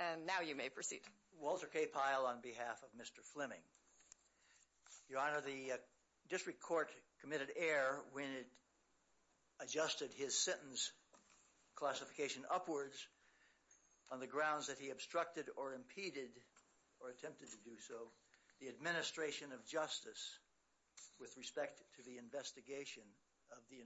And now you may proceed. Walter K. Pyle on behalf of Mr. Fleming. Your Honor, the District Court committed error when it adjusted his sentence classification upwards on the grounds that he obstructed or impeded or attempted to do so the administration of justice with respect to the investigation of the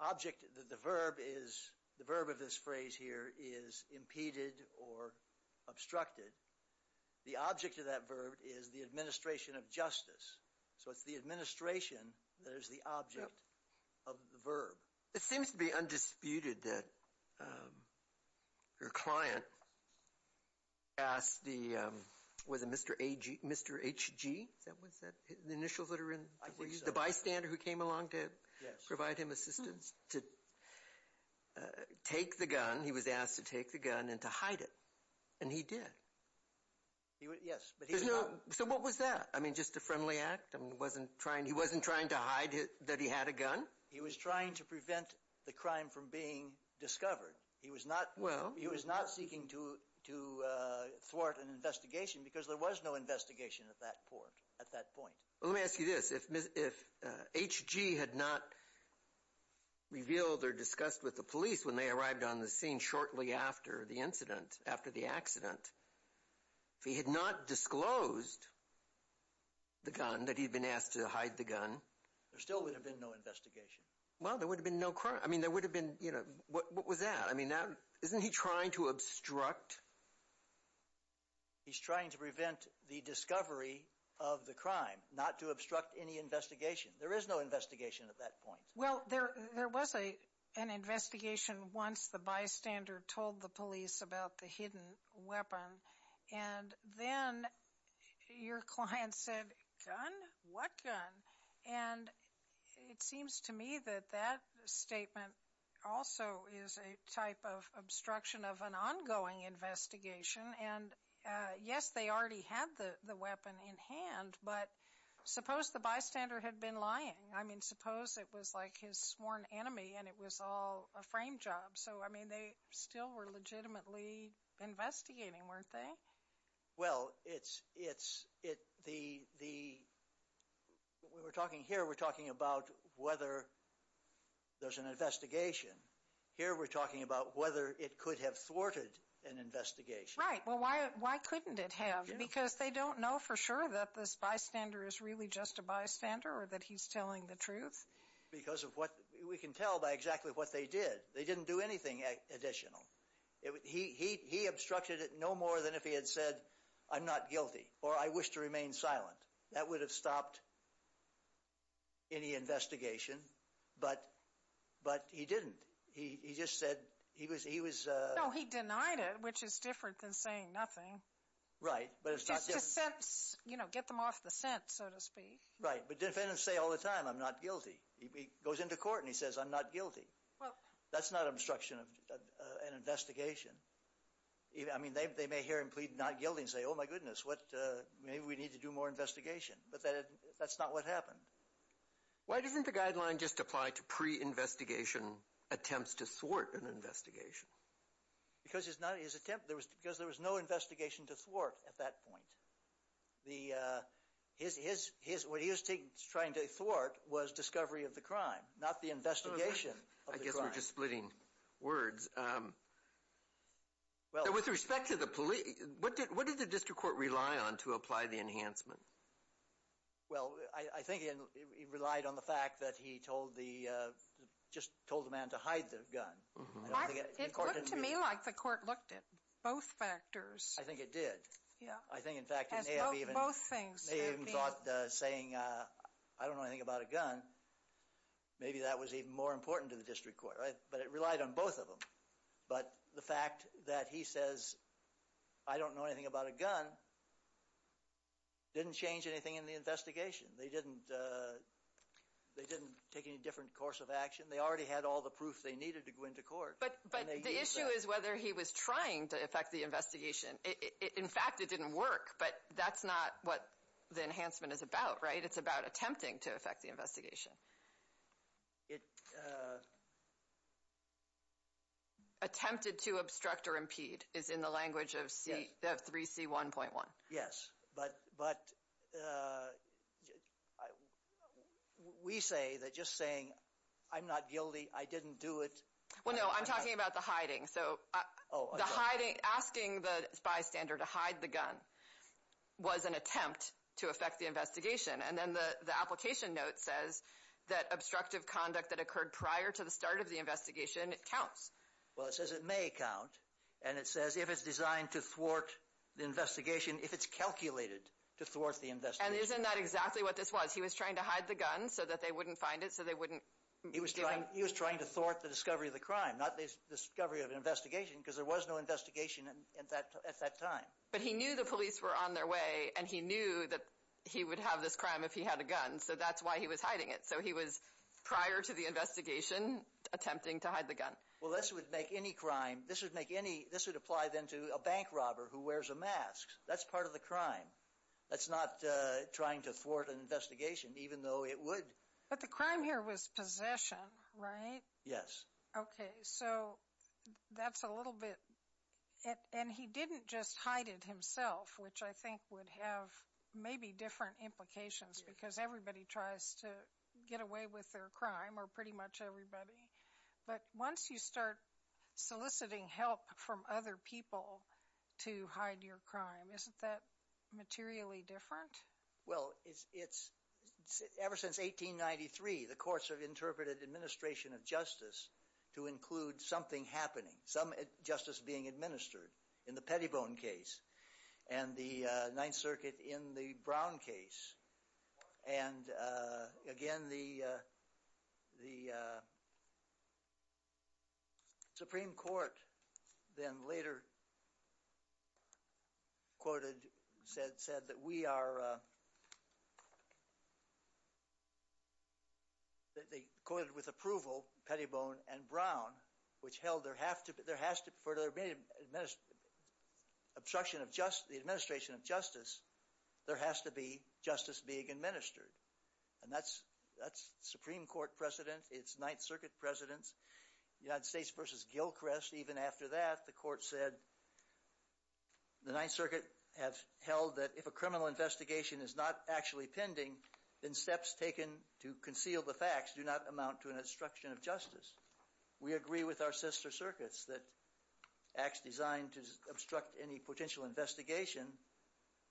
object that the verb is the verb of this phrase here is impeded or obstructed the object of that verb is the administration of justice so it's the administration that is the object of the verb it seems to be undisputed that your client asked the was a mr. AG mr. HG that was that the initials that are in the bystander who came along to provide him assistance to take the gun he was asked to take the gun and to hide it and he did so what was that I mean just a friendly act and wasn't trying he wasn't trying to hide it that he had a gun he was trying to prevent the crime from being discovered he was not well he was not seeking to to thwart an investigation because there was no HG had not revealed or discussed with the police when they arrived on the scene shortly after the incident after the accident if he had not disclosed the gun that he'd been asked to hide the gun there still would have been no investigation well there would have been no crime I mean there would have been you know what was that I mean now isn't he trying to obstruct he's trying to there is no investigation at that point well there there was a an investigation once the bystander told the police about the hidden weapon and then your client said what gun and it seems to me that that statement also is a type of obstruction of an ongoing investigation and yes they already had the the weapon in hand but suppose the bystander had been lying I mean suppose it was like his sworn enemy and it was all a frame job so I mean they still were legitimately investigating weren't they well it's it's it the the we're talking here we're talking about whether there's an investigation here we're talking about whether it could have thwarted an investigation right well why why couldn't it have because they don't know for sure that this bystander is really just a bystander or that he's telling the truth because of what we can tell by exactly what they did they didn't do anything additional he he obstructed it no more than if he had said I'm not guilty or I wish to remain silent that would have stopped any investigation but but he didn't he just said he was he was he denied it which is different than saying nothing right but it's just you know get them off the scent so to speak right but defendants say all the time I'm not guilty he goes into court and he says I'm not guilty well that's not obstruction of an investigation I mean they may hear him plead not guilty and say oh my goodness what maybe we need to do more investigation but that that's not what happened why doesn't the guideline just apply to pre investigation attempts to thwart an investigation because it's not his attempt there was because there was no investigation to thwart at that point the his his his what he was trying to thwart was discovery of the crime not the investigation I guess we're just splitting words well with respect to the police what did what did the district court rely on to apply the enhancement well I think he relied on the fact that he told the just told the man to hide the gun to me like the court looked at both factors I think it did yeah I think in fact both things even thought saying I don't know anything about a gun maybe that was even more important to the district court right but it relied on both of them but the fact that he says I don't know anything about a gun didn't change anything in the investigation they didn't they didn't take any different course of action they already had all the proof they needed to go into court but but the issue is whether he was trying to affect the investigation in fact it didn't work but that's not what the enhancement is about right it's about attempting to affect the investigation it attempted to obstruct or impede is in the language of cf3 c 1.1 yes but but we say that just saying I'm not guilty I didn't do it well no I'm talking about the hiding so oh the hiding asking the bystander to hide the gun was an attempt to affect the investigation and then the the application note says that obstructive conduct that occurred prior to the start of the investigation it counts well it may count and it says if it's designed to thwart the investigation if it's calculated to thwart the invest and isn't that exactly what this was he was trying to hide the gun so that they wouldn't find it so they wouldn't he was trying he was trying to thwart the discovery of the crime not this discovery of an investigation because there was no investigation and in fact at that time but he knew the police were on their way and he knew that he would have this crime if he had a gun so that's why he was hiding it so he was prior to the investigation attempting to hide the gun well this would make any crime this would make any this would apply then to a bank robber who wears a mask that's part of the crime that's not trying to thwart an investigation even though it would but the crime here was possession right yes okay so that's a little bit it and he didn't just hide it himself which I think would have maybe different implications because everybody tries to get away with their crime or everybody but once you start soliciting help from other people to hide your crime isn't that materially different well it's it's ever since 1893 the courts have interpreted administration of justice to include something happening some justice being administered in the Pettibone case and the Ninth Circuit in the Brown case and again the the Supreme Court then later quoted said said that we are they quoted with approval Pettibone and Brown which held there have to be there has to for their main administration obstruction of administration of justice there has to be justice being administered and that's that's Supreme Court precedent it's Ninth Circuit presidents United States versus Gilchrist even after that the court said the Ninth Circuit have held that if a criminal investigation is not actually pending then steps taken to conceal the facts do not amount to an obstruction of justice we agree with our investigation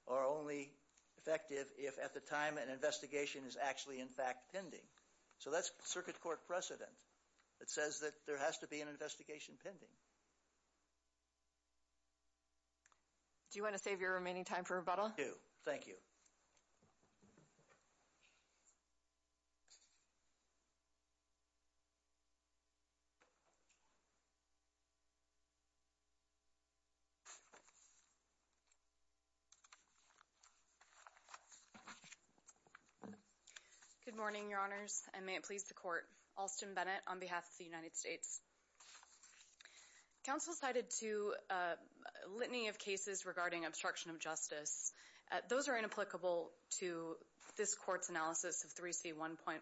are only effective if at the time an investigation is actually in fact pending so that's Circuit Court precedent that says that there has to be an investigation pending do you want to save your remaining time for a bottle do thank you good morning your honors and may it please the court Austin Bennett on behalf of the United States council cited to litany of cases regarding obstruction of justice those are inapplicable to this court's analysis of 3c 1.1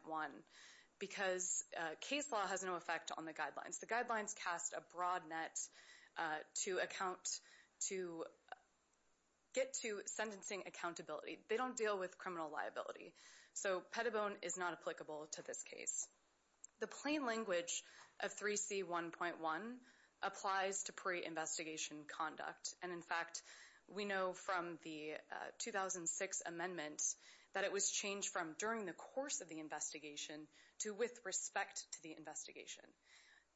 because case law has no effect on the guidelines the get to sentencing accountability they don't deal with criminal liability so Pettibone is not applicable to this case the plain language of 3c 1.1 applies to pre-investigation conduct and in fact we know from the 2006 amendments that it was changed from during the course of the investigation to with respect to the investigation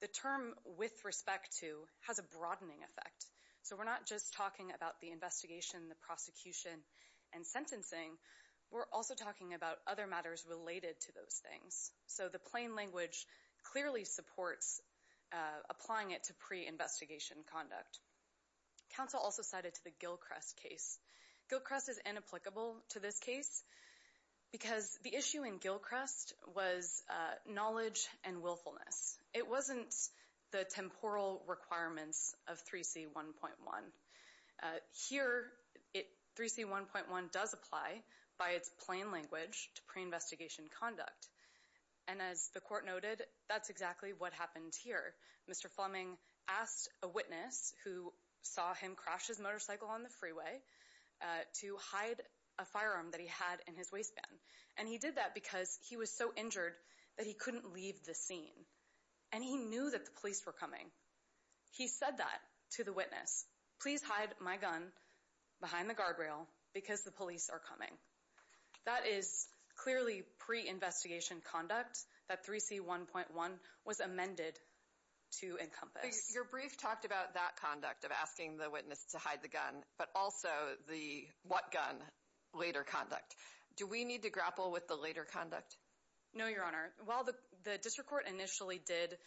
the term with respect to has a broadening effect so we're not just talking about the investigation the prosecution and sentencing we're also talking about other matters related to those things so the plain language clearly supports applying it to pre-investigation conduct council also cited to the Gilchrist case Gilchrist is inapplicable to this case because the issue in Gilchrist was knowledge and willfulness it wasn't the temporal requirements of 3c 1.1 here it 3c 1.1 does apply by its plain language to pre-investigation conduct and as the court noted that's exactly what happened here mr. Fleming asked a witness who saw him crash his motorcycle on the freeway to hide a firearm that he had in his waistband and he did that because he was so injured that he couldn't leave the scene and he knew that the police were coming he said that to the witness please hide my gun behind the guardrail because the police are coming that is clearly pre-investigation conduct that 3c 1.1 was amended to encompass your brief talked about that conduct of asking the witness to hide the gun but also the what gun later conduct do we need to grapple with the later conduct no your honor well the district court initially did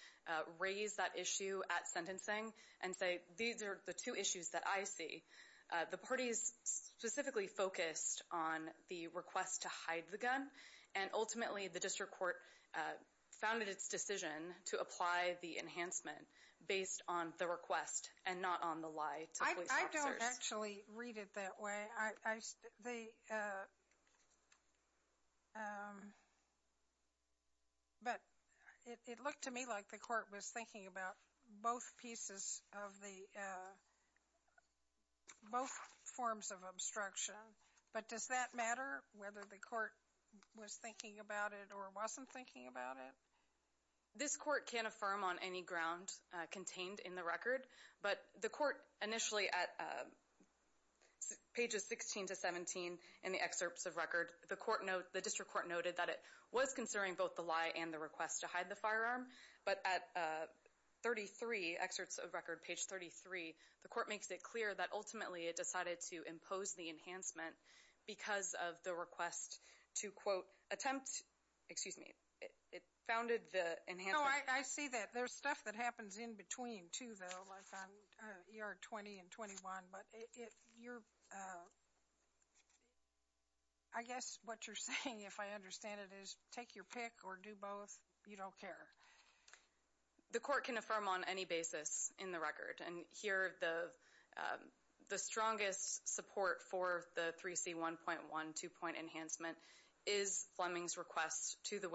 raise that issue at sentencing and say these are the two issues that I see the parties specifically focused on the request to hide the gun and ultimately the district court founded its decision to apply the enhancement based on the request and not on the lie I don't actually read it that I the but it looked to me like the court was thinking about both pieces of the both forms of obstruction but does that matter whether the court was thinking about it or wasn't thinking about it this court can't affirm on any ground contained in the record but the court initially at pages 16 to 17 in the excerpts of record the court note the district court noted that it was considering both the lie and the request to hide the firearm but at 33 excerpts of record page 33 the court makes it clear that ultimately it decided to impose the enhancement because of the request to quote attempt excuse me it stuff that happens in between to the ER 20 and 21 but if you're I guess what you're saying if I understand it is take your pick or do both you don't care the court can affirm on any basis in the record and here the the strongest support for the 3c 1.1 two-point enhancement is Fleming's requests to the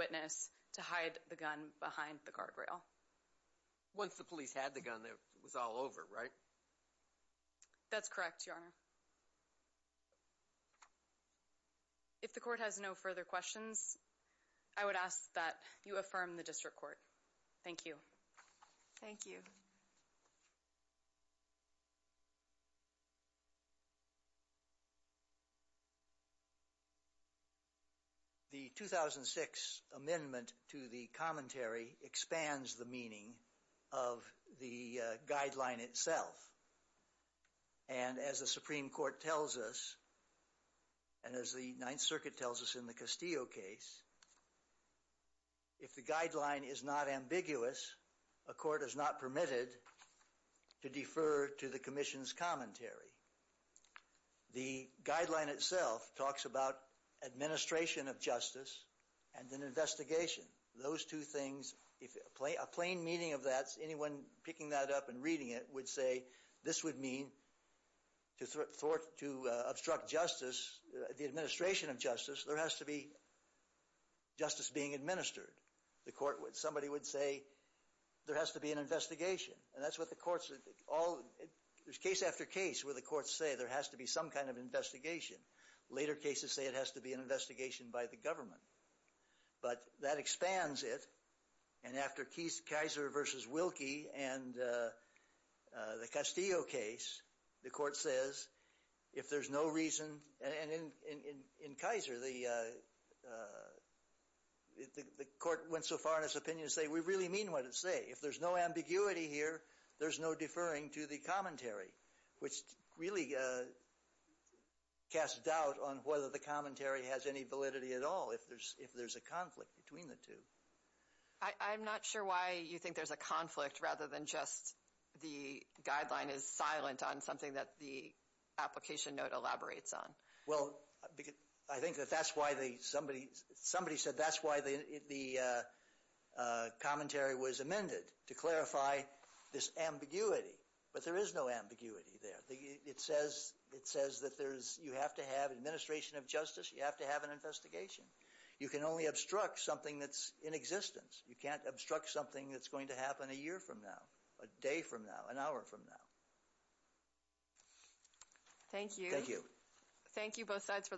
once the police had the gun that was all over right that's correct if the court has no further questions I would ask that you affirm the district court thank you thank you you the 2006 amendment to the commentary expands the meaning of the guideline itself and as the Supreme Court tells us and as the Ninth Circuit tells us in the Castillo case if the guideline is not ambiguous a court is not permitted to the Commission's commentary the guideline itself talks about administration of justice and an investigation those two things if a plain a plain meaning of that's anyone picking that up and reading it would say this would mean to sort to obstruct justice the administration of justice there has to be justice being administered the court would somebody would say there has to be an investigation and that's what the case after case where the courts say there has to be some kind of investigation later cases say it has to be an investigation by the government but that expands it and after keys Kaiser versus Wilkie and the Castillo case the court says if there's no reason and in in in Kaiser the the court went so far in his opinion say we really mean what it say if there's no ambiguity here there's no deferring to the commentary which really cast doubt on whether the commentary has any validity at all if there's if there's a conflict between the two I'm not sure why you think there's a conflict rather than just the guideline is silent on something that the application note elaborates on well because I think that that's why they somebody somebody said that's why they the commentary was amended to clarify this ambiguity but there is no ambiguity there it says it says that there's you have to have administration of justice you have to have an investigation you can only obstruct something that's in existence you can't obstruct something that's going to happen a year from now a day from now an hour from now thank you thank you thank you both sides for the